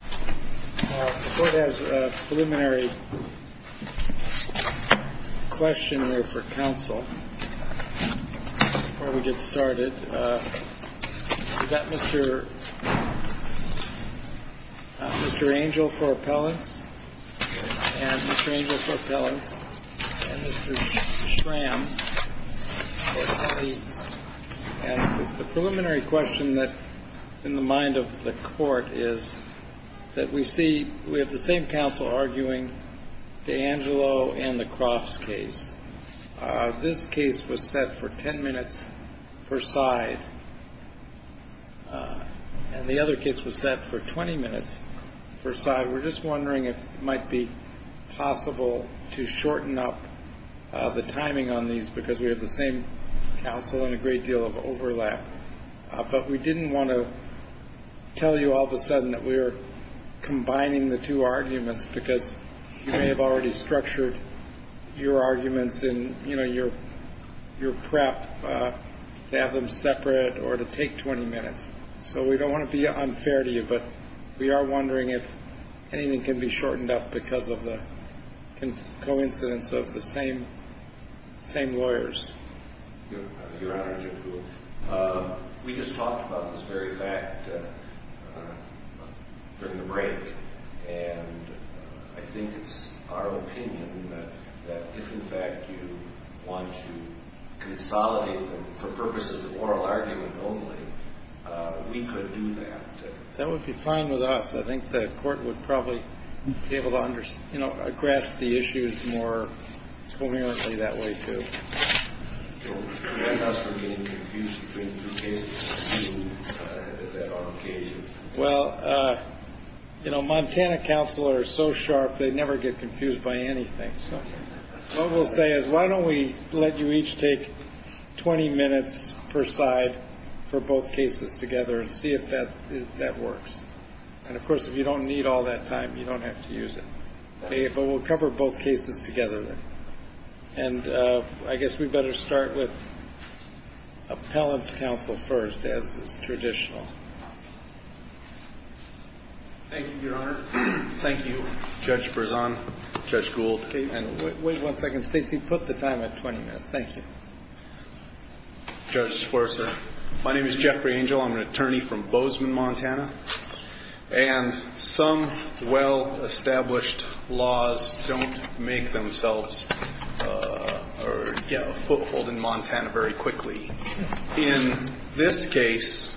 The Court has a preliminary question for counsel before we get started. We've got Mr. Angel for appellants, and Mr. Angel for appellants, and Mr. Schramm for appellants. And the preliminary question that's in the mind of the Court is that we see we have the same counsel arguing D'Angelo and the Crofts case. This case was set for 10 minutes per side, and the other case was set for 20 minutes per side. We're just wondering if it might be possible to shorten up the timing on these because we have the same counsel and a great deal of overlap. But we didn't want to tell you all of a sudden that we were combining the two arguments because you may have already structured your arguments in your prep to have them separate or to take 20 minutes. So we don't want to be unfair to you, but we are wondering if anything can be shortened up because of the coincidence of the same lawyers. Your Honor, we just talked about this very fact during the break, and I think it's our opinion that if, in fact, you want to consolidate them for purposes of oral argument only, we could do that. That would be fine with us. I think the court would probably be able to grasp the issues more coherently that way, too. Well, you know, Montana counsel are so sharp they never get confused by anything. What we'll say is why don't we let you each take 20 minutes per side for both cases together and see if that works. And of course, if you don't need all that time, you don't have to use it. We'll cover both cases together. And I guess we'd better start with appellant's counsel first as is traditional. Thank you, Your Honor. Thank you, Judge Berzon, Judge Gould. And wait one second, Stacy. Put the time at 20 minutes. Thank you. Judge Sforza, my name is Jeffrey Angel. I'm an attorney from Bozeman, Montana. And some well-established laws don't make themselves or get a foothold in Montana very quickly. In this case,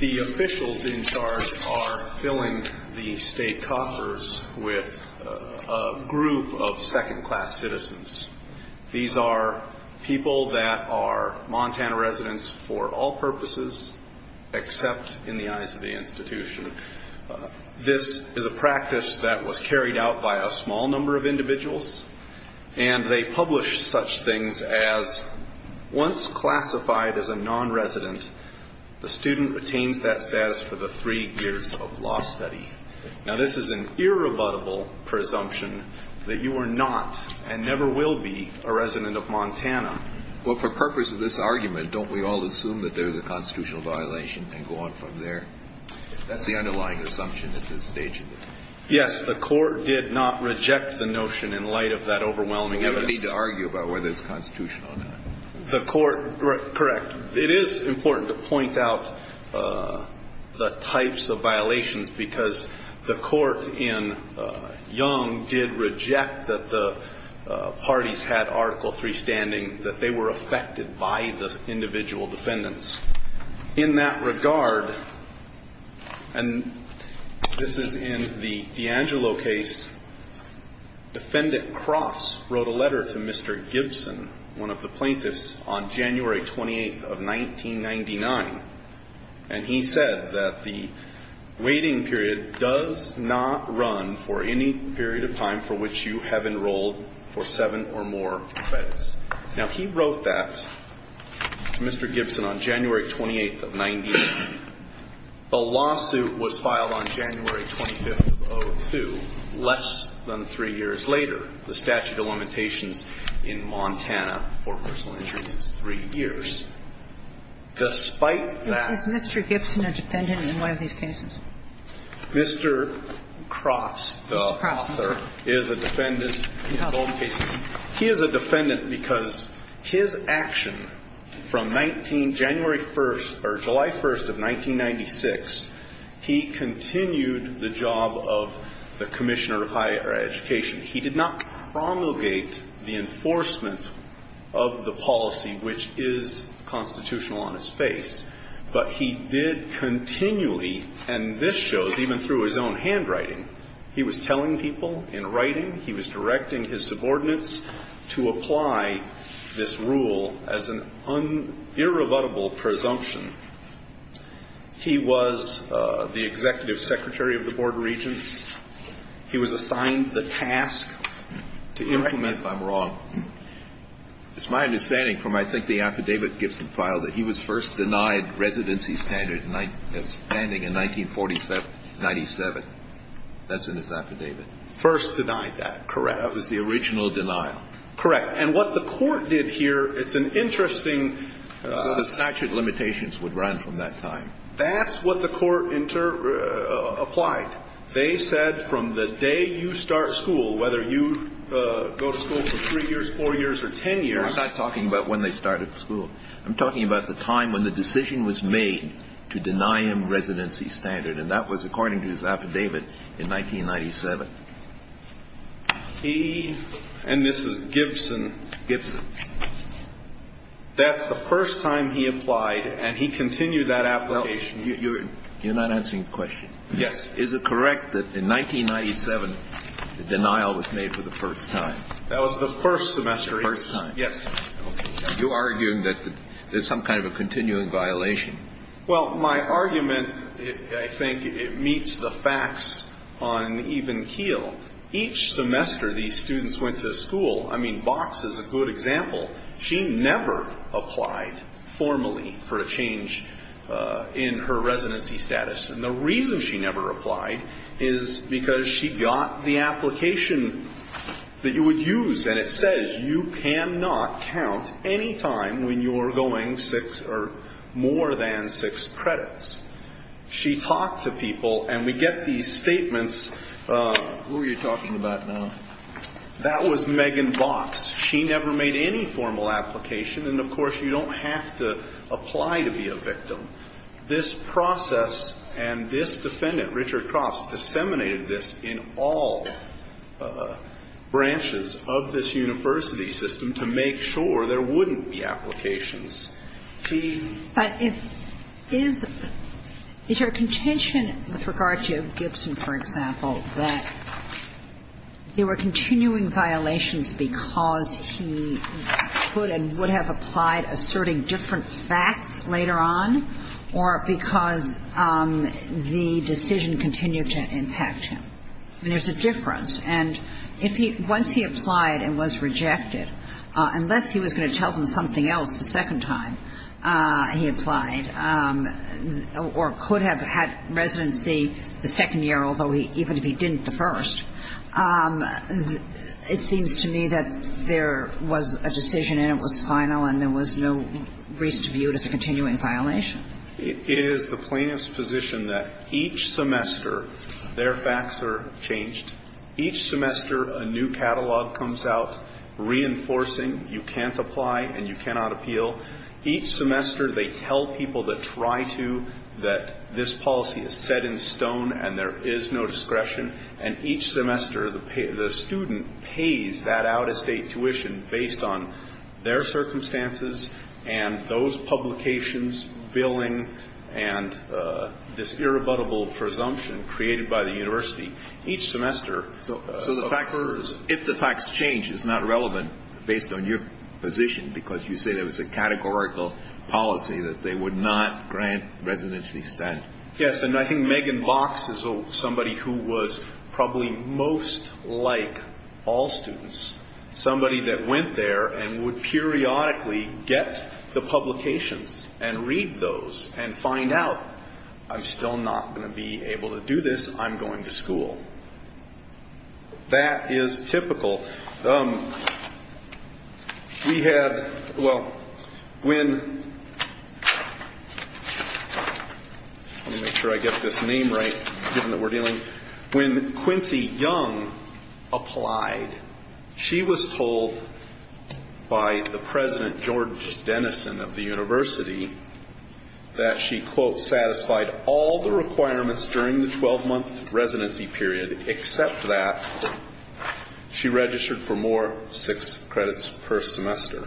the officials in charge are filling the state coffers with a group of second-class citizens. These are people that are Montana residents for all purposes except in the eyes of the institution. This is a practice that was carried out by a small number of individuals. And they publish such things as once classified as a nonresident, the student retains that status for the three years of law study. Now, this is an irrebuttable presumption that you are not and never will be a resident of Montana. Well, for purpose of this argument, don't we all assume that there is a constitutional violation and go on from there? That's the underlying assumption at this stage. Yes, the court did not reject the notion in light of that overwhelming evidence. We don't need to argue about whether it's constitutional or not. Correct. It is important to point out the types of violations because the court in Young did reject that the parties had Article III standing, that they were affected by the individual defendants. In that regard, and this is in the D'Angelo case, Defendant Cross wrote a letter to Mr. Gibson, one of the plaintiffs, on January 28th of 1999. And he said that the waiting period does not run for any period of time for which you have enrolled for seven or more credits. Now, he wrote that to Mr. Gibson on January 28th of 1990. The lawsuit was filed on January 25th of 2002, less than three years later. The statute of limitations in Montana for personal injuries is three years. Despite that Mr. Gibson a defendant in one of these cases? Mr. Cross, the author, is a defendant in both cases. He is a defendant because his action from 19 January 1st or July 1st of 1996, he continued the job of the Commissioner of Higher Education. He did not promulgate the enforcement of the policy which is constitutional on his face. But he did continually, and this shows even through his own handwriting, he was telling people in writing. He was directing his subordinates to apply this rule as an irrebuttable presumption. He was the Executive Secretary of the Board of Regents. He was assigned the task to implement. I'm wrong. It's my understanding from I think the affidavit Gibson filed that he was first denied residency standard standing in 1947, 97. That's in his affidavit. First denied that, correct. That was the original denial. Correct. And what the Court did here, it's an interesting. The statute of limitations would run from that time. That's what the Court applied. They said from the day you start school, whether you go to school for three years, four years or ten years. I'm not talking about when they started school. I'm talking about the time when the decision was made to deny him residency standard. And that was according to his affidavit in 1997. He, and this is Gibson. Gibson. That's the first time he applied, and he continued that application. You're not answering the question. Yes. Is it correct that in 1997, the denial was made for the first time? That was the first semester. First time. Yes. You're arguing that there's some kind of a continuing violation. Well, my argument, I think, meets the facts on even keel. Each semester these students went to school. I mean, Box is a good example. She never applied formally for a change in her residency status. And the reason she never applied is because she got the application that you would use, and it says you cannot count any time when you are going six or more than six credits. She talked to people, and we get these statements. Who are you talking about now? That was Megan Box. She never made any formal application, and, of course, you don't have to apply to be a victim. This process and this defendant, Richard Crofts, disseminated this in all branches of this university system to make sure there wouldn't be applications. He ---- But is your contention with regard to Gibson, for example, that there were continuing violations because he put and would have applied asserting different facts later on or because the decision continued to impact him? I mean, there's a difference. And if he ---- once he applied and was rejected, unless he was going to tell them something else the second time he applied or could have had residency the second year, although he ---- even if he didn't the first, it seems to me that there was a decision and it was final and there was no reason to view it as a continuing violation. It is the plaintiff's position that each semester their facts are changed. Each semester a new catalog comes out reinforcing you can't apply and you cannot appeal. Each semester they tell people that try to that this policy is set in stone and there is no discretion. And each semester the student pays that out-of-state tuition based on their circumstances and those publications, billing, and this irrebuttable presumption created by the university. Each semester occurs ---- So the facts ---- if the facts change, it's not relevant based on your position because you say there was a categorical policy that they would not grant residency stand. Yes, and I think Megan Box is somebody who was probably most like all students, somebody that went there and would periodically get the publications and read those and find out, I'm still not going to be able to do this, I'm going to school. That is typical. We have, well, when ---- let me make sure I get this name right, given that we're dealing ---- when Quincy Young applied, she was told by the president, George Dennison of the university, that she, quote, satisfied all the requirements during the 12-month residency period, except that she registered for more six credits per semester.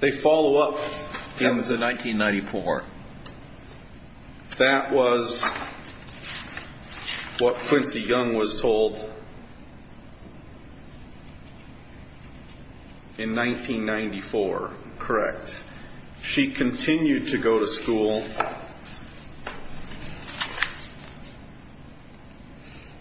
They follow up in the ---- That was in 1994. That was what Quincy Young was told in 1994, correct. She continued to go to school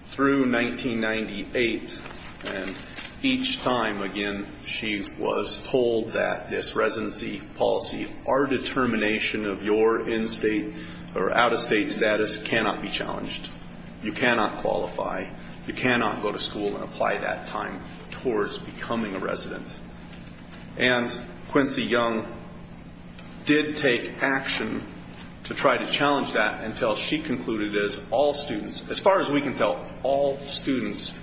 through 1998, and each time, again, she was told that this residency policy, our determination of your in-state or out-of-state status cannot be challenged. You cannot qualify. You cannot go to school and apply that time towards becoming a resident. And Quincy Young did take action to try to challenge that until she concluded that all students, as far as we can tell, all students,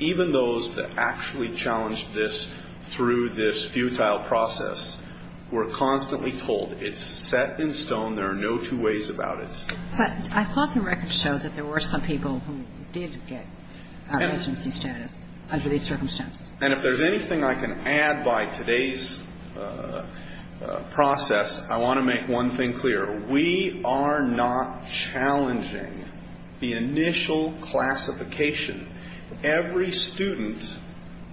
even those that actually challenged this through this futile process, were constantly told. It's set in stone. There are no two ways about it. But I thought the record showed that there were some people who did get residency status under these circumstances. And if there's anything I can add by today's process, I want to make one thing clear. We are not challenging the initial classification. Every student,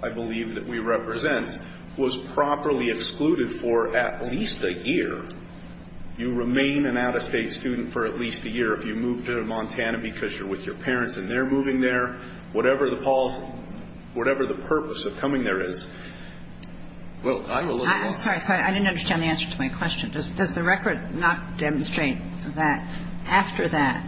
I believe, that we represent was properly excluded for at least a year. You remain an out-of-state student for at least a year. If you moved to Montana because you're with your parents and they're moving there, whatever the purpose of coming there is. I'm a little lost. I'm sorry. I didn't understand the answer to my question. Does the record not demonstrate that after that,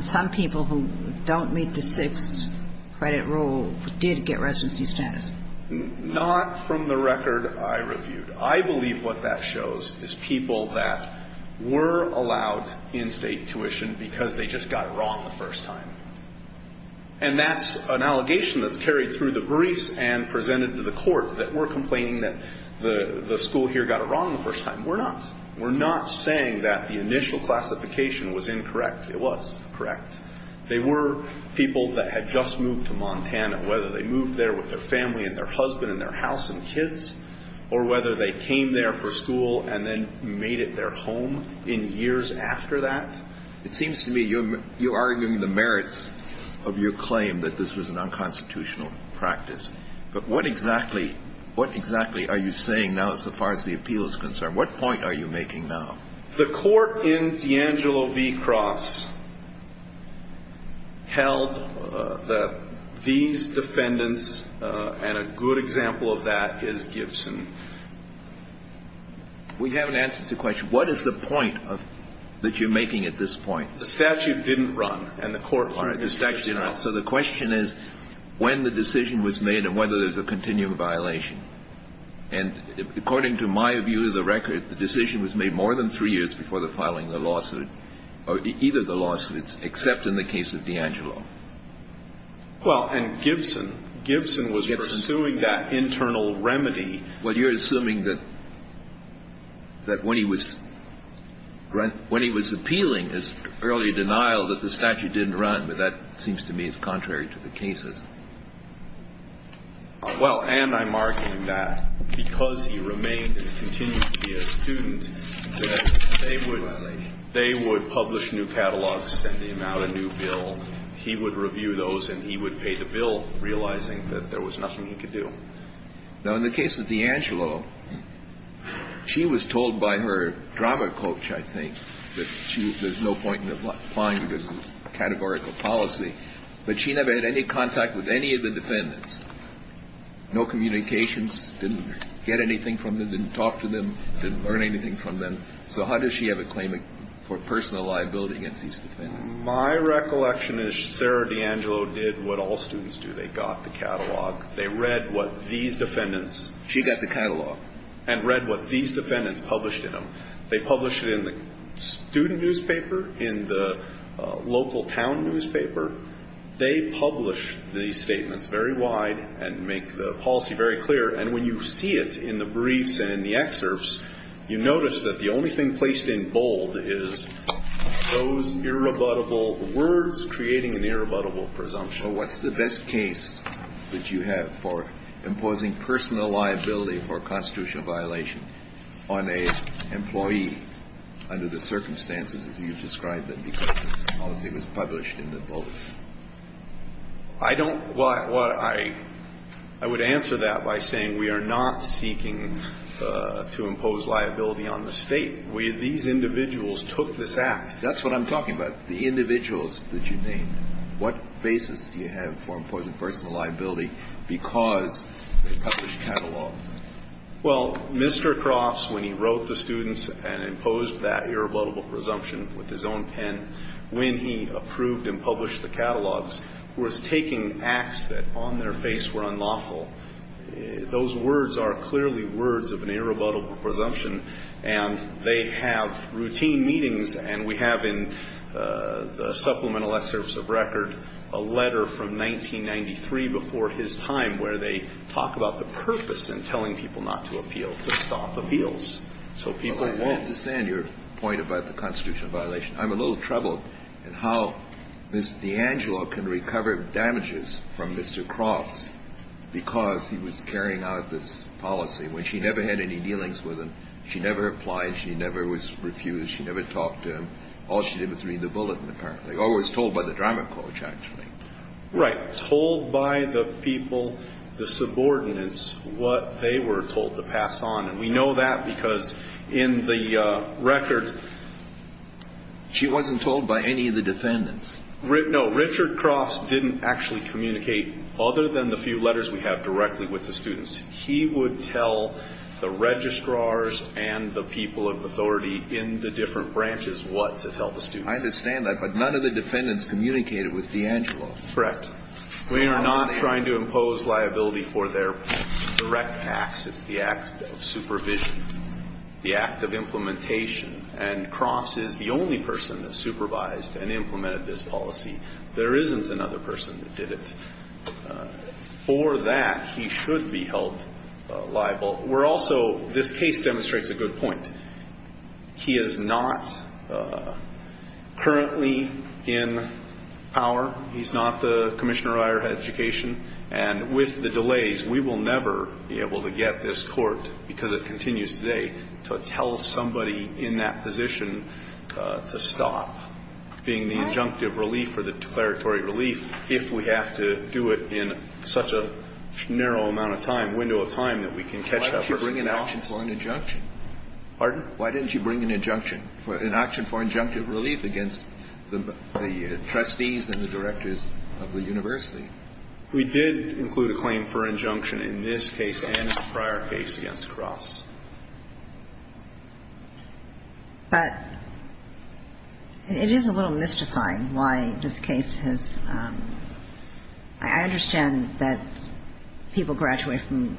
some people who don't meet the sixth credit rule did get residency status? Not from the record I reviewed. I believe what that shows is people that were allowed in-state tuition because they just got it wrong the first time. And that's an allegation that's carried through the briefs and presented to the court, that we're complaining that the school here got it wrong the first time. We're not. We're not saying that the initial classification was incorrect. It was correct. They were people that had just moved to Montana, whether they moved there with their family and their husband and their house and kids, or whether they came there for school and then made it their home in years after that. It seems to me you're arguing the merits of your claim that this was an unconstitutional practice. But what exactly are you saying now as far as the appeal is concerned? What point are you making now? The court in D'Angelo v. Cross held that these defendants, and a good example of that is Gibson. We haven't answered the question. What is the point that you're making at this point? The statute didn't run and the court didn't run. So the question is when the decision was made and whether there's a continuing violation. And according to my view of the record, the decision was made more than three years before the filing of the lawsuit or either the lawsuits, except in the case of D'Angelo. Well, and Gibson, Gibson was pursuing that internal remedy. Well, you're assuming that when he was appealing his early denial that the statute didn't run, but that seems to me is contrary to the cases. Well, and I'm arguing that because he remained and continued to be a student, that they would publish new catalogs, send him out a new bill. He would review those and he would pay the bill, realizing that there was nothing he could do. Now, in the case of D'Angelo, she was told by her drama coach, I think, that there's no point in applying the categorical policy. But she never had any contact with any of the defendants, no communications, didn't get anything from them, didn't talk to them, didn't learn anything from them. So how does she have a claim for personal liability against these defendants? My recollection is Sarah D'Angelo did what all students do. They got the catalog. They read what these defendants. She got the catalog. And read what these defendants published in them. They publish it in the student newspaper, in the local town newspaper. They publish these statements very wide and make the policy very clear. And when you see it in the briefs and in the excerpts, you notice that the only thing placed in bold is those irrebuttable words creating an irrebuttable presumption. But what's the best case that you have for imposing personal liability for a constitutional violation on an employee under the circumstances as you've described them because the policy was published in the bulletin? I don't – well, I would answer that by saying we are not seeking to impose liability on the State. We – these individuals took this act. That's what I'm talking about, the individuals that you named. What basis do you have for imposing personal liability because they published catalogs? Well, Mr. Crofts, when he wrote the students and imposed that irrebuttable presumption with his own pen, when he approved and published the catalogs, was taking acts that on their face were unlawful. Those words are clearly words of an irrebuttable presumption. And they have routine meetings. And we have in the supplemental excerpts of record a letter from 1993 before his time where they talk about the purpose in telling people not to appeal, to stop appeals. So people won't – But I understand your point about the constitutional violation. I'm a little troubled at how Ms. DeAngelo can recover damages from Mr. Crofts because he was carrying out this policy when she never had any dealings with him. She never applied. She never was refused. She never talked to him. All she did was read the bulletin, apparently. Or was told by the drama coach, actually. Right. Told by the people, the subordinates, what they were told to pass on. And we know that because in the record – She wasn't told by any of the defendants. No. Richard Crofts didn't actually communicate other than the few letters we have directly with the students. He would tell the registrars and the people of authority in the different branches what to tell the students. I understand that, but none of the defendants communicated with DeAngelo. Correct. We are not trying to impose liability for their direct acts. It's the act of supervision, the act of implementation. And Crofts is the only person that supervised and implemented this policy. There isn't another person that did it. For that, he should be held liable. We're also – this case demonstrates a good point. He is not currently in power. He's not the commissioner of higher education. And with the delays, we will never be able to get this court, because it continues today, to tell somebody in that position to stop being the injunctive relief or the declaratory relief if we have to do it in such a narrow amount of time, window of time, that we can catch that person. Why didn't you bring an action for an injunction? Pardon? Why didn't you bring an injunction for – an action for injunctive relief against the trustees and the directors of the university? We did include a claim for injunction in this case and in the prior case against Crofts. But it is a little mystifying why this case has – I understand that people graduate from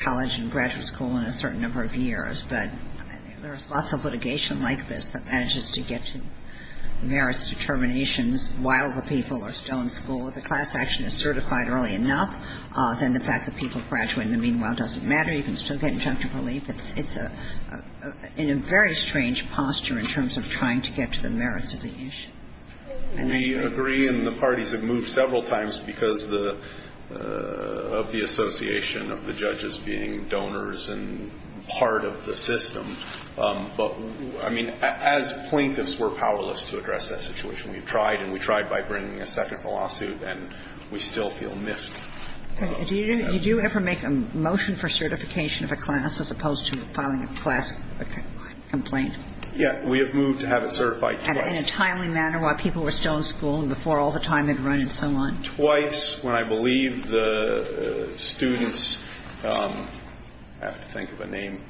college and graduate school in a certain number of years, but there is lots of litigation like this that manages to get to merits determinations while the people are still in school. If the class action is certified early enough, then the fact that people graduate in the meanwhile doesn't matter. You can still get injunctive relief. It's a – in a very strange posture in terms of trying to get to the merits of the issue. We agree, and the parties have moved several times because of the association of the judges being donors and part of the system. But, I mean, as plaintiffs, we're powerless to address that situation. We've tried, and we tried by bringing a second lawsuit, and we still feel miffed. Did you ever make a motion for certification of a class as opposed to filing a class complaint? Yes. We have moved to have it certified twice. In a timely manner while people were still in school and before all the time had run and so on? Twice, when I believe the students – I have to think of a name.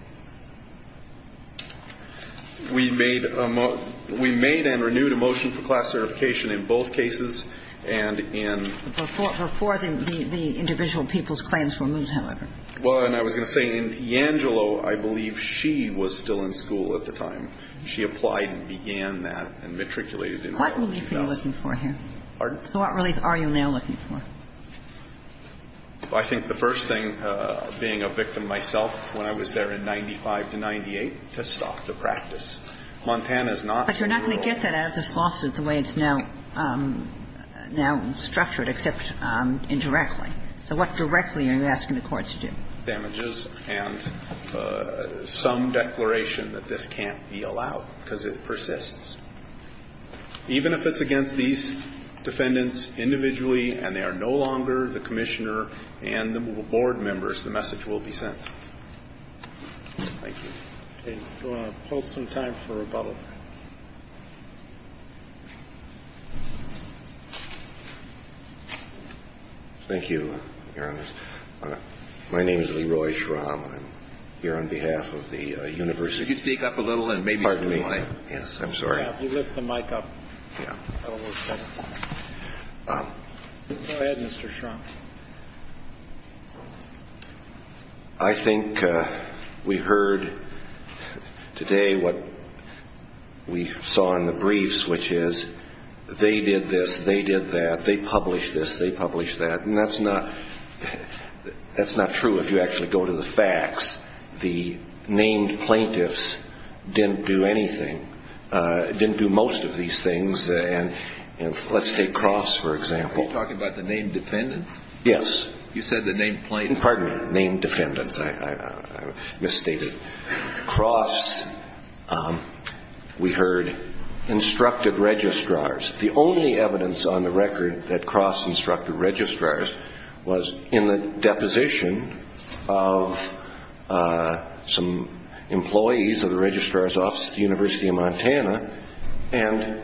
We made a – we made and renewed a motion for class certification in both cases and in – Before the individual people's claims were moved, however. Well, and I was going to say, in D'Angelo, I believe she was still in school at the time. She applied and began that and matriculated in the early 2000s. What relief are you looking for here? Pardon? So what relief are you now looking for? I think the first thing, being a victim myself when I was there in 95 to 98, to stop the practice. Montana's not – But you're not going to get that out of this lawsuit the way it's now structured except indirectly. So what directly are you asking the courts to do? Damages and some declaration that this can't be allowed because it persists. Even if it's against these defendants individually and they are no longer the commissioner and the board members, the message will be sent. Thank you. Okay. We'll hold some time for rebuttal. Thank you, Your Honor. My name is Leroy Schramm. I'm here on behalf of the University – Could you speak up a little and maybe – Pardon me. Yes, I'm sorry. You lift the mic up. Go ahead, Mr. Schramm. I think we heard today what we saw in the briefs, which is they did this, they did that, they published this, they published that. And that's not true if you actually go to the facts. The named plaintiffs didn't do anything, didn't do most of these things. And let's take Cross, for example. Are you talking about the named defendants? Yes. You said the named plaintiffs. Pardon me. Named defendants. I misstated. Cross, we heard, instructed registrars. The only evidence on the record that Cross instructed registrars was in the deposition of some employees of the registrar's office at the University of Montana. And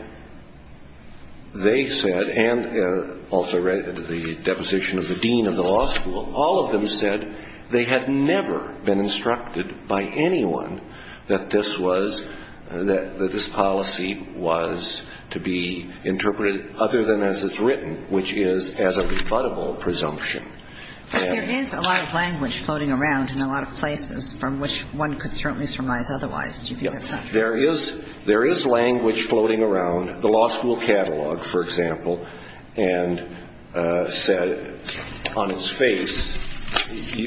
they said, and also the deposition of the dean of the law school, all of them said they had never been instructed by anyone that this was, that this policy was to be interpreted other than as it's written, which is as a rebuttable presumption. There is a lot of language floating around in a lot of places from which one could certainly surmise otherwise. There is language floating around, the law school catalog, for example, and said on its face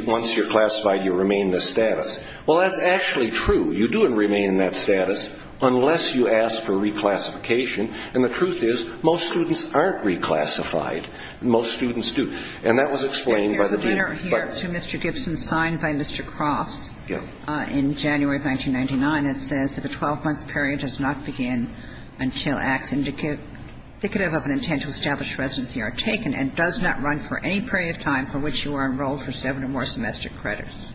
once you're classified you remain the status. Well, that's actually true. You do remain in that status unless you ask for reclassification. And the truth is most students aren't reclassified. Most students do. And that was explained by the dean. I'm here to Mr. Gibson signed by Mr. Cross in January of 1999. It says that the 12-month period does not begin until acts indicative of an intent to establish residency are taken and does not run for any period of time for which you are enrolled for seven or more semester credits.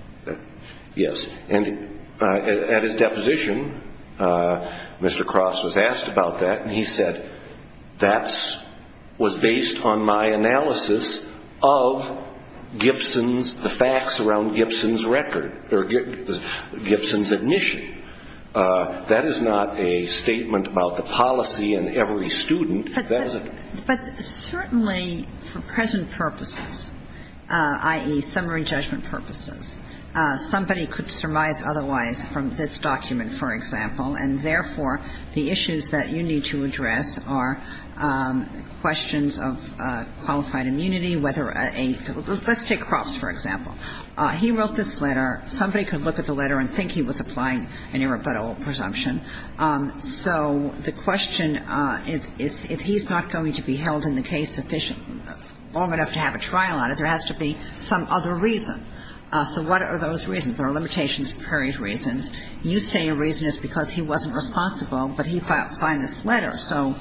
Yes. And at his deposition, Mr. Cross was asked about that. And he said that was based on my analysis of Gibson's, the facts around Gibson's record or Gibson's admission. That is not a statement about the policy in every student. But certainly for present purposes, i.e., summary judgment purposes, somebody could surmise otherwise from this document, for example, and therefore the issues that you need to address are questions of qualified immunity, whether a – let's take Cropps, for example. He wrote this letter. Somebody could look at the letter and think he was applying an irrebuttable presumption. So the question is if he's not going to be held in the case long enough to have a trial on it, there has to be some other reason. So what are those reasons? There are limitations for various reasons. You say a reason is because he wasn't responsible, but he signed this letter. So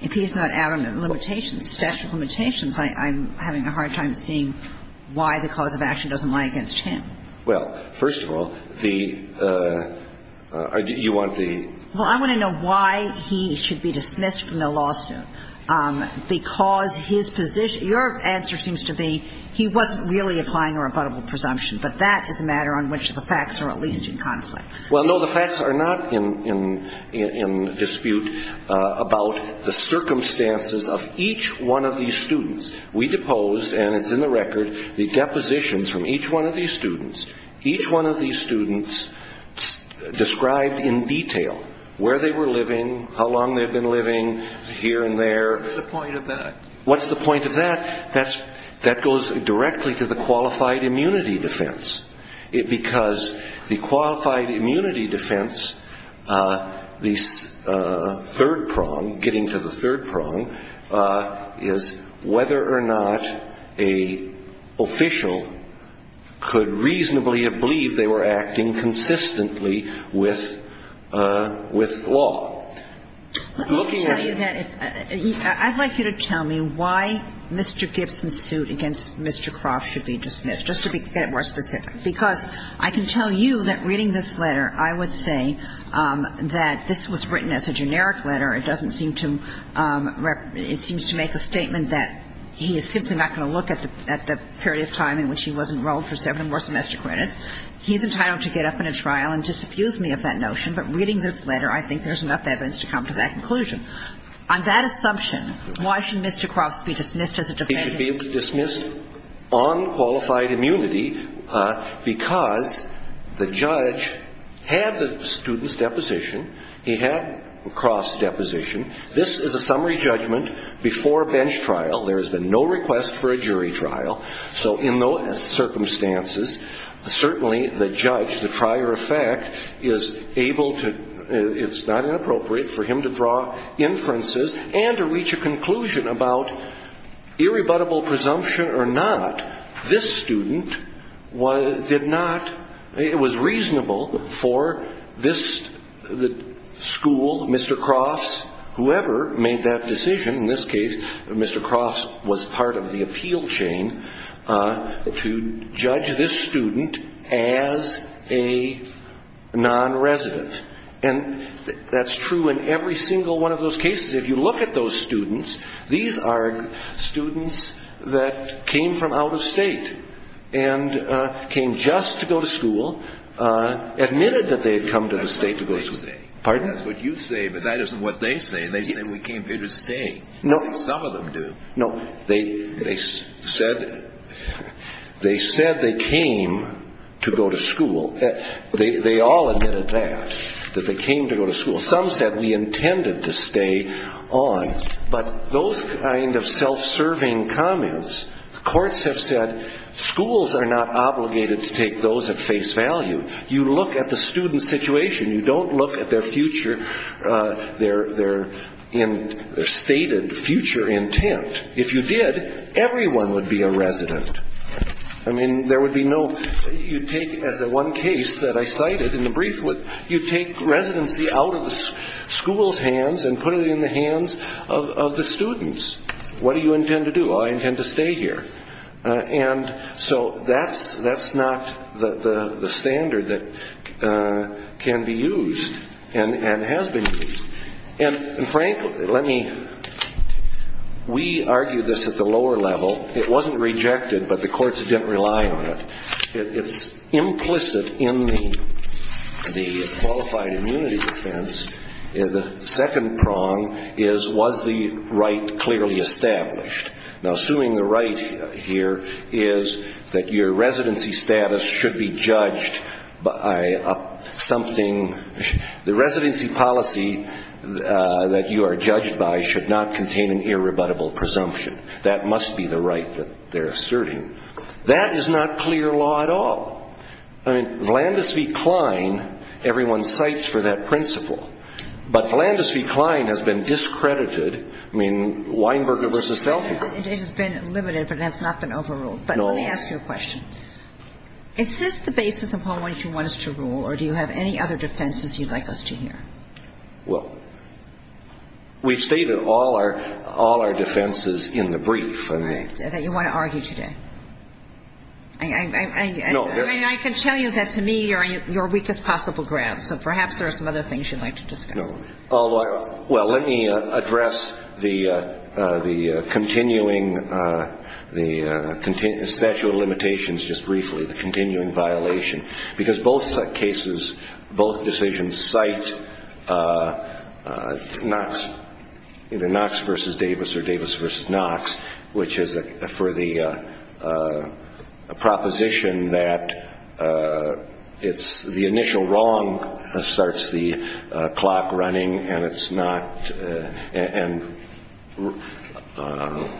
if he's not adamant, limitations, statute of limitations, I'm having a hard time seeing why the cause of action doesn't lie against him. Well, first of all, the – you want the – Well, I want to know why he should be dismissed from the lawsuit. Because his – your answer seems to be he wasn't really applying a rebuttable presumption, but that is a matter on which the facts are at least in conflict. Well, no, the facts are not in dispute about the circumstances of each one of these students. We deposed, and it's in the record, the depositions from each one of these students. Each one of these students described in detail where they were living, how long they had been living, here and there. What's the point of that? What's the point of that? That goes directly to the qualified immunity defense. Because the qualified immunity defense, the third prong, getting to the third prong, is whether or not an official could reasonably have believed they were acting consistently with law. Let me tell you that if – I'd like you to tell me why Mr. Gibson's suit against Mr. Croft should be dismissed, just to get it more specific. Because I can tell you that reading this letter, I would say that this was written as a generic letter. It doesn't seem to – it seems to make a statement that he is simply not going to look at the period of time in which he was enrolled for seven more semester credits. He's entitled to get up in a trial and disabuse me of that notion. But reading this letter, I think there's enough evidence to come to that conclusion. On that assumption, why should Mr. Croft be dismissed as a defendant? He should be dismissed on qualified immunity because the judge had the students' deposition. He had Croft's deposition. This is a summary judgment before a bench trial. There has been no request for a jury trial. So in those circumstances, certainly the judge, the prior effect, is able to – it's not inappropriate for him to draw inferences and to reach a conclusion about irrebuttable presumption or not. This student did not – it was reasonable for this school, Mr. Croft's, whoever made that decision, in this case Mr. Croft was part of the appeal chain, to judge this student as a non-resident. And that's true in every single one of those cases. If you look at those students, these are students that came from out of state and came just to go to school, admitted that they had come to the state to go to – That's what they say. Pardon? That's what you say, but that isn't what they say. They say we came here to stay. No. Some of them do. No. They said they came to go to school. They all admitted that, that they came to go to school. Some said we intended to stay on. But those kind of self-serving comments, courts have said schools are not obligated to take those at face value. You look at the student's situation. You don't look at their future – their stated future intent. If you did, everyone would be a resident. I mean, there would be no – you'd take, as in one case that I cited in the brief, you'd take residency out of the school's hands and put it in the hands of the students. What do you intend to do? Oh, I intend to stay here. And so that's not the standard that can be used and has been used. And frankly, let me – we argue this at the lower level. It wasn't rejected, but the courts didn't rely on it. It's implicit in the qualified immunity defense. The second prong is, was the right clearly established? Now, assuming the right here is that your residency status should be judged by something – the residency policy that you are judged by should not contain an irrebuttable presumption. That must be the right that they're asserting. That is not clear law at all. I mean, Vlandis v. Kline, everyone cites for that principle. But Vlandis v. Kline has been discredited. I mean, Weinberger v. Seligman. It has been limited, but it has not been overruled. But let me ask you a question. Is this the basis of what you want us to rule, or do you have any other defenses you'd like us to hear? Well, we've stated all our defenses in the brief. All right. That you want to argue today? No. I mean, I can tell you that to me you're on your weakest possible ground, so perhaps there are some other things you'd like to discuss. No. Well, let me address the continuing statute of limitations just briefly, the continuing violation, because both cases, both decisions cite either Knox v. Davis or Davis v. Knox, which is for the proposition that the initial wrong starts the clock running and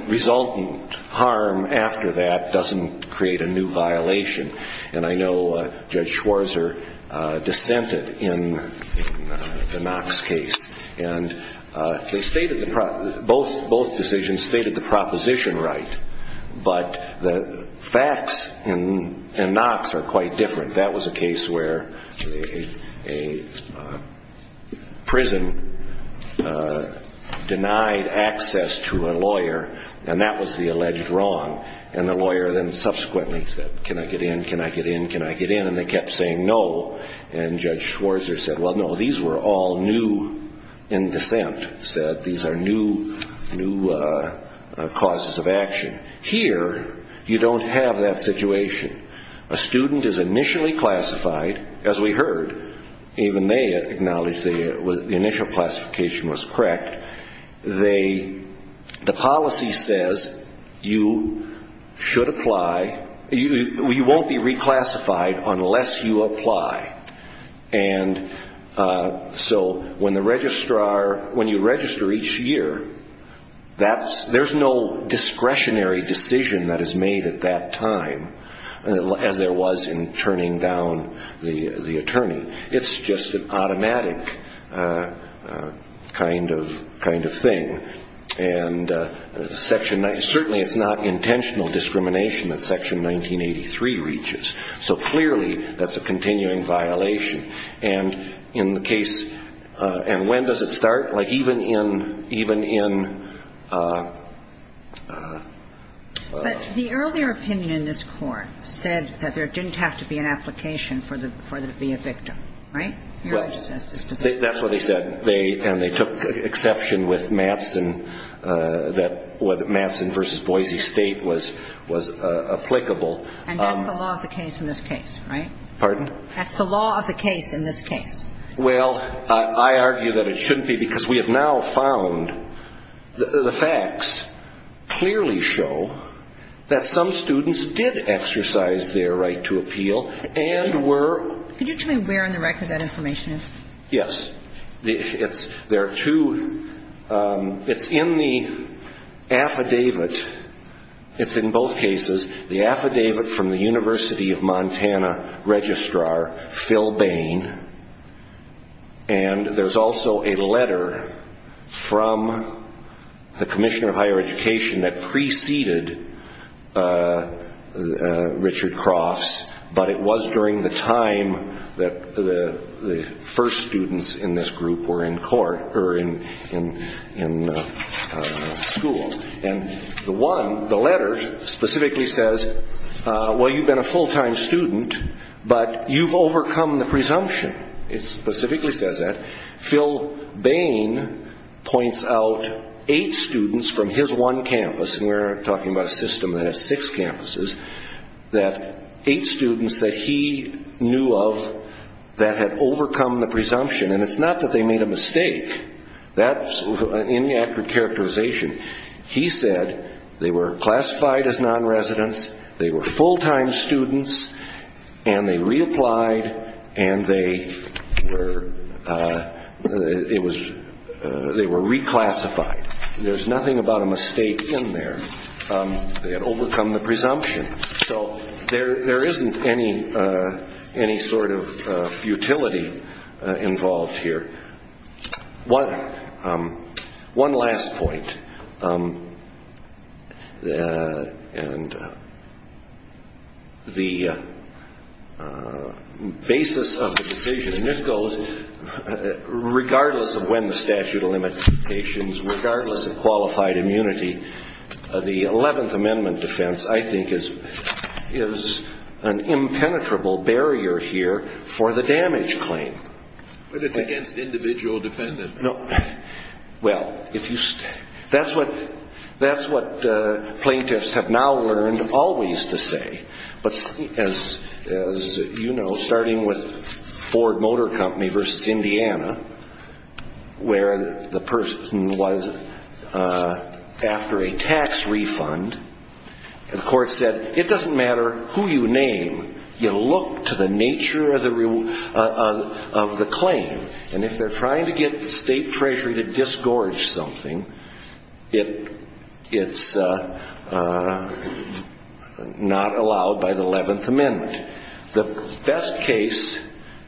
resultant harm after that doesn't create a new violation. And I know Judge Schwarzer dissented in the Knox case. And both decisions stated the proposition right, but the facts in Knox are quite different. That was a case where a prison denied access to a lawyer, and that was the alleged wrong. And the lawyer then subsequently said, can I get in, can I get in, can I get in, and they kept saying no. And Judge Schwarzer said, well, no, these were all new in dissent, said these are new causes of action. Here you don't have that situation. A student is initially classified, as we heard, even they acknowledged the initial classification was correct. The policy says you should apply, you won't be reclassified unless you apply. And so when you register each year, there's no discretionary decision that is made at that time, as there was in turning down the attorney. It's just an automatic kind of thing. And section 19, certainly it's not intentional discrimination that section 1983 reaches. So clearly that's a continuing violation. And in the case, and when does it start? Like even in, even in. But the earlier opinion in this court said that there didn't have to be an application for there to be a victim, right? That's what they said. And they took exception with Matson, that Matson v. Boise State was applicable. And that's the law of the case in this case, right? Pardon? That's the law of the case in this case. Well, I argue that it shouldn't be because we have now found the facts clearly show that some students did exercise their right to appeal and were. Could you tell me where in the record that information is? Yes. There are two. It's in the affidavit. It's in both cases. The affidavit from the University of Montana registrar, Phil Bain. And there's also a letter from the commissioner of higher education that preceded Richard Croft's. But it was during the time that the first students in this group were in court or in school. And the one, the letter specifically says, well, you've been a full-time student, but you've overcome the presumption. It specifically says that. Phil Bain points out eight students from his one campus, and we're talking about a system that has six campuses, that eight students that he knew of that had overcome the presumption. And it's not that they made a mistake. That's an inaccurate characterization. He said they were classified as nonresidents, they were full-time students, and they reapplied and they were reclassified. There's nothing about a mistake in there. They had overcome the presumption. So there isn't any sort of futility involved here. One last point. And the basis of the decision, and this goes regardless of when the statute of limitations, regardless of qualified immunity, the 11th Amendment defense, I think, is an impenetrable barrier here for the damage claim. But it's against individual defendants. Well, that's what plaintiffs have now learned always to say. But as you know, starting with Ford Motor Company versus Indiana, where the person was after a tax refund, the court said it doesn't matter who you name, you look to the nature of the claim. And if they're trying to get the State Treasury to disgorge something, it's not allowed by the 11th Amendment. The best case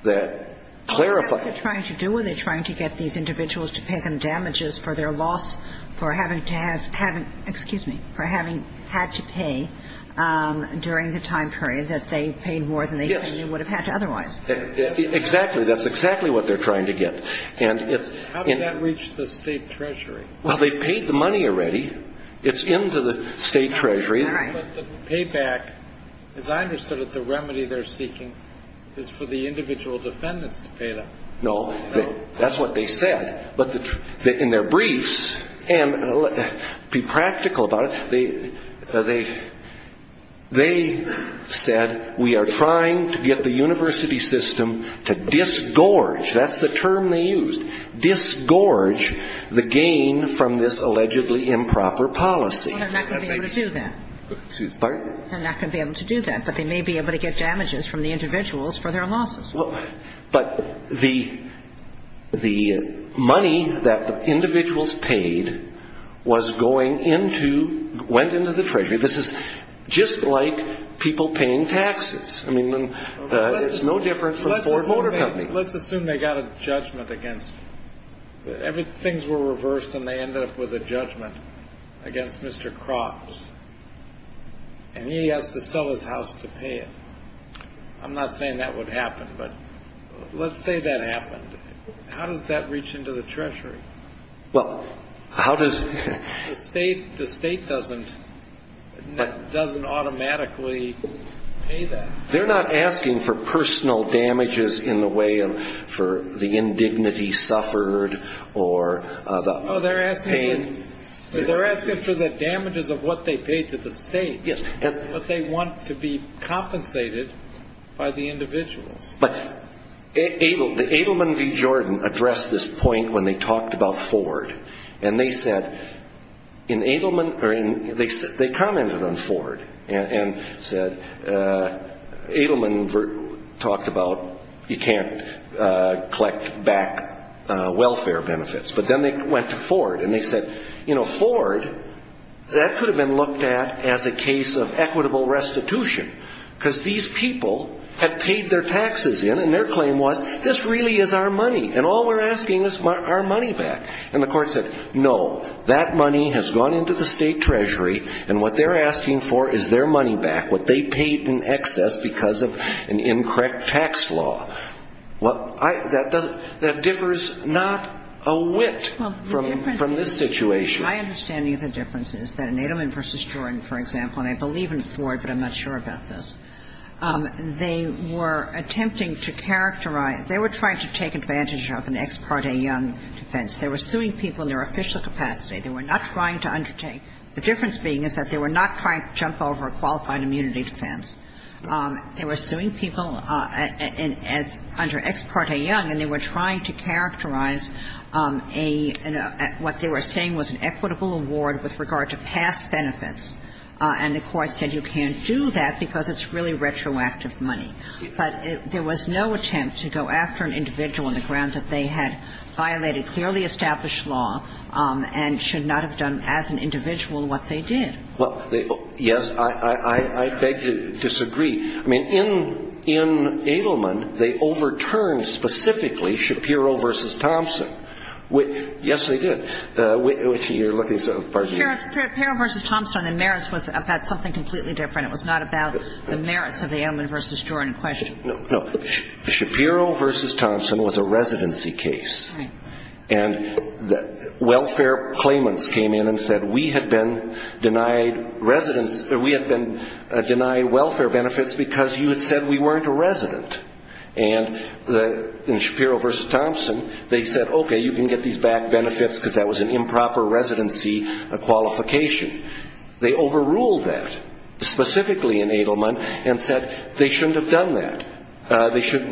that clarifies the claim is that the State Treasury is not allowed to disgorge something. What are they trying to do? Are they trying to get these individuals to pay them damages for their loss, for having to have ‑‑ excuse me, for having had to pay during the time period that they paid more than they would have had to otherwise? Exactly. That's exactly what they're trying to get. How did that reach the State Treasury? Well, they paid the money already. It's into the State Treasury. But the payback, as I understood it, the remedy they're seeking is for the individual defendants to pay them. No. That's what they said. But in their briefs, and be practical about it, they said we are trying to get the university system to disgorge, that's the term they used, disgorge the gain from this allegedly improper policy. Well, they're not going to be able to do that. Excuse me? They're not going to be able to do that, but they may be able to get damages from the individuals for their losses. But the money that the individuals paid was going into ‑‑ went into the Treasury. This is just like people paying taxes. I mean, it's no different from Ford Motor Company. Let's assume they got a judgment against ‑‑ things were reversed and they ended up with a judgment against Mr. Cropps, and he has to sell his house to pay it. I'm not saying that would happen, but let's say that happened. How does that reach into the Treasury? Well, how does ‑‑ The state doesn't automatically pay that. They're not asking for personal damages in the way of for the indignity suffered or the pain. No, they're asking for the damages of what they paid to the state. Yes. But they want to be compensated by the individuals. But Edelman v. Jordan addressed this point when they talked about Ford. And they said in Edelman ‑‑ they commented on Ford and said Edelman talked about you can't collect back welfare benefits. But then they went to Ford and they said, you know, Ford, that could have been looked at as a case of equitable restitution. Because these people had paid their taxes in, and their claim was, this really is our money, and all we're asking is our money back. And the court said, no, that money has gone into the state Treasury, and what they're asking for is their money back, what they paid in excess because of an incorrect tax law. That differs not a whit from this situation. My understanding of the difference is that in Edelman v. Jordan, for example, and I believe in Ford, but I'm not sure about this, they were attempting to characterize ‑‑ they were trying to take advantage of an ex parte young defense. They were suing people in their official capacity. They were not trying to undertake ‑‑ the difference being is that they were not trying to jump over a qualified immunity defense. They were suing people under ex parte young, and they were trying to characterize a ‑‑ what they were saying was an equitable award with regard to past benefits. And the court said you can't do that because it's really retroactive money. But there was no attempt to go after an individual on the grounds that they had violated clearly established law and should not have done as an individual what they did. Well, yes, I beg to disagree. I mean, in Edelman, they overturned specifically Shapiro v. Thompson. Yes, they did. You're looking ‑‑ pardon me. Shapiro v. Thompson, the merits was about something completely different. It was not about the merits of the Edelman v. Jordan question. No. Shapiro v. Thompson was a residency case. Right. And the welfare claimants came in and said we had been denied residence ‑‑ we had been denied welfare benefits because you had said we weren't a resident. And in Shapiro v. Thompson, they said, okay, you can get these back benefits because that was an improper residency qualification. They overruled that, specifically in Edelman, and said they shouldn't have done that. They should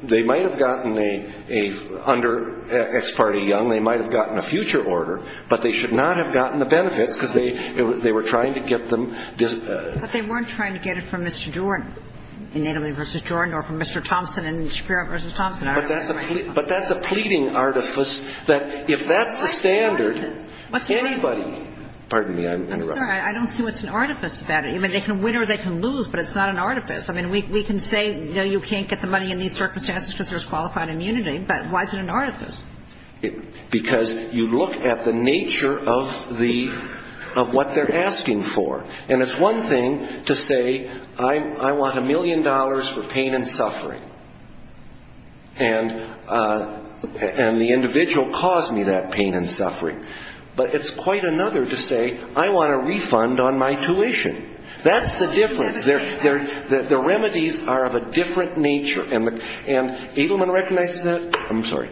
‑‑ they might have gotten a ‑‑ under Ex parte Young, they might have gotten a future order, but they should not have gotten the benefits because they were trying to get them ‑‑ But they weren't trying to get it from Mr. Jordan in Edelman v. Jordan or from Mr. Thompson in Shapiro v. Thompson. But that's a pleading artifice that if that's the standard, anybody ‑‑ I'm sorry. Pardon me. I'm interrupting. I'm sorry. I don't see what's an artifice about it. I mean, they can win or they can lose, but it's not an artifice. I mean, we can say, you know, you can't get the money in these circumstances because there's qualified immunity, but why is it an artifice? Because you look at the nature of the ‑‑ of what they're asking for. And it's one thing to say I want a million dollars for pain and suffering. And the individual caused me that pain and suffering. But it's quite another to say I want a refund on my tuition. That's the difference. The remedies are of a different nature. And Edelman recognizes that? I'm sorry.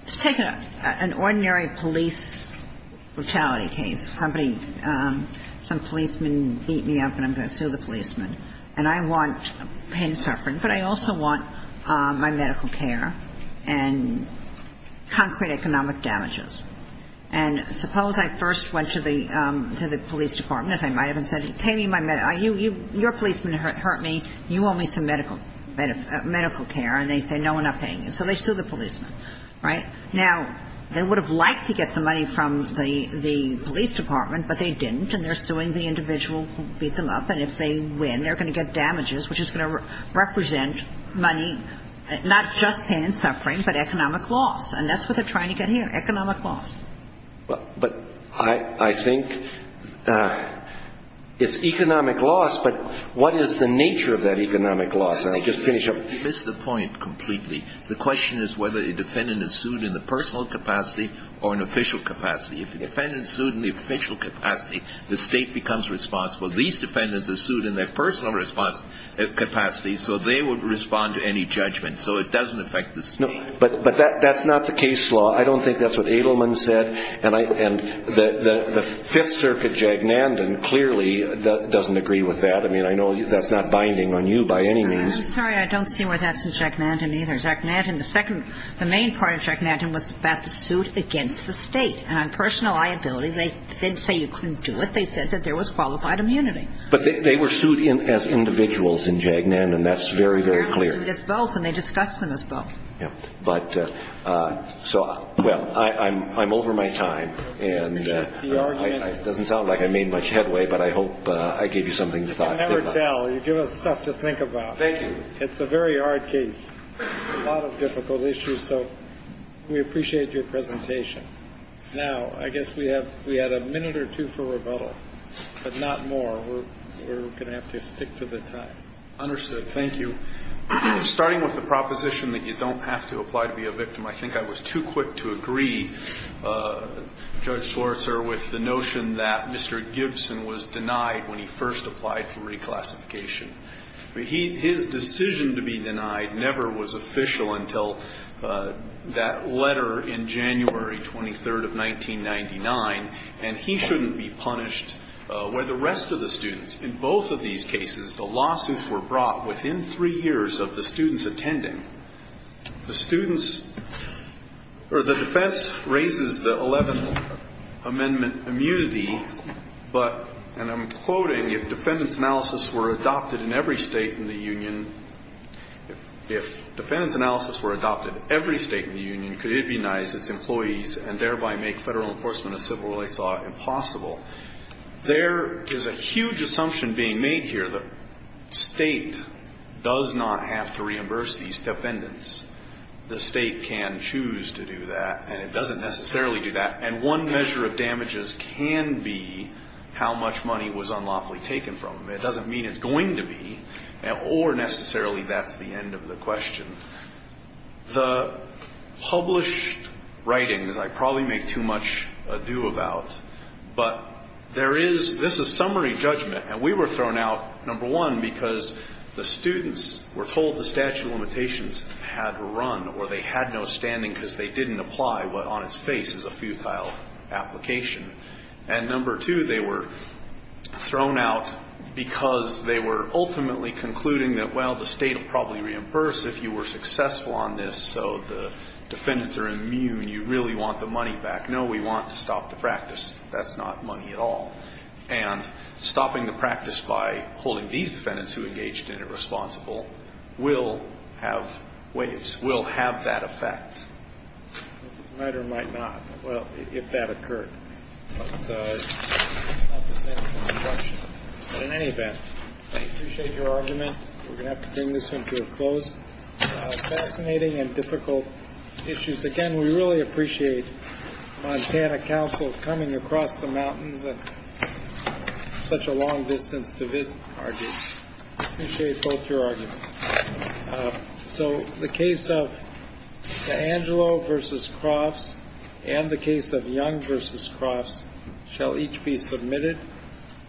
Let's take an ordinary police brutality case. Somebody ‑‑ some policeman beat me up and I'm going to sue the policeman. And I want pain and suffering, but I also want my medical care and concrete economic damages. And suppose I first went to the police department, as I might have, and said, pay me my medical ‑‑ your policeman hurt me. You owe me some medical care. And they say no, we're not paying you. So they sue the policeman. Right? Now, they would have liked to get the money from the police department, but they didn't. And they're suing the individual who beat them up. And if they win, they're going to get damages, which is going to represent money, not just pain and suffering, but economic loss. And that's what they're trying to get here, economic loss. But I think it's economic loss, but what is the nature of that economic loss? And I'll just finish up. You missed the point completely. The question is whether a defendant is sued in the personal capacity or an official capacity. If the defendant is sued in the official capacity, the State becomes responsible. These defendants are sued in their personal response capacity, so they would respond to any judgment. So it doesn't affect the State. But that's not the case law. I don't think that's what Edelman said. And the Fifth Circuit, Jagnandan, clearly doesn't agree with that. I mean, I know that's not binding on you by any means. I'm sorry. I don't see where that's in Jagnandan either. Jagnandan, the main part of Jagnandan was about the suit against the State. And on personal liability, they didn't say you couldn't do it. They said that there was qualified immunity. But they were sued as individuals in Jagnandan. That's very, very clear. They were sued as both, and they discussed them as both. But so, well, I'm over my time. And it doesn't sound like I made much headway, but I hope I gave you something to think about. You never tell. You give us stuff to think about. Thank you. It's a very hard case, a lot of difficult issues. So we appreciate your presentation. Now, I guess we have a minute or two for rebuttal, but not more. We're going to have to stick to the time. Understood. Thank you. Starting with the proposition that you don't have to apply to be a victim, I think I was too quick to agree, Judge Schwartzer, with the notion that Mr. Gibson was denied when he first applied for reclassification. His decision to be denied never was official until that letter in January 23rd of 1999, and he shouldn't be punished where the rest of the students. In both of these cases, the lawsuits were brought within three years of the students attending. The students or the defense raises the 11th Amendment immunity, but, and I'm quoting, if defendant's analysis were adopted in every state in the union, if defendant's analysis were adopted in every state in the union, could it be denied its employees and thereby make federal enforcement of civil rights law impossible? There is a huge assumption being made here. The state does not have to reimburse these defendants. The state can choose to do that, and it doesn't necessarily do that. And one measure of damages can be how much money was unlawfully taken from them. It doesn't mean it's going to be, or necessarily that's the end of the question. The published writings I probably make too much ado about, but there is, this is summary judgment, and we were thrown out, number one, because the students were told the statute of limitations had run or they had no standing because they didn't apply what on its face is a futile application. And number two, they were thrown out because they were ultimately concluding that, well, the state will probably reimburse if you were successful on this, so the defendants are immune. You really want the money back. No, we want to stop the practice. That's not money at all. And stopping the practice by holding these defendants who engaged in it responsible will have waves, will have that effect. Might or might not, well, if that occurred. But it's not the same as an injunction. In any event, I appreciate your argument. We're going to have to bring this one to a close. Fascinating and difficult issues. Again, we really appreciate Montana Council coming across the mountains at such a long distance to visit. I appreciate both your arguments. So the case of DeAngelo versus Crofts and the case of Young versus Crofts shall each be submitted.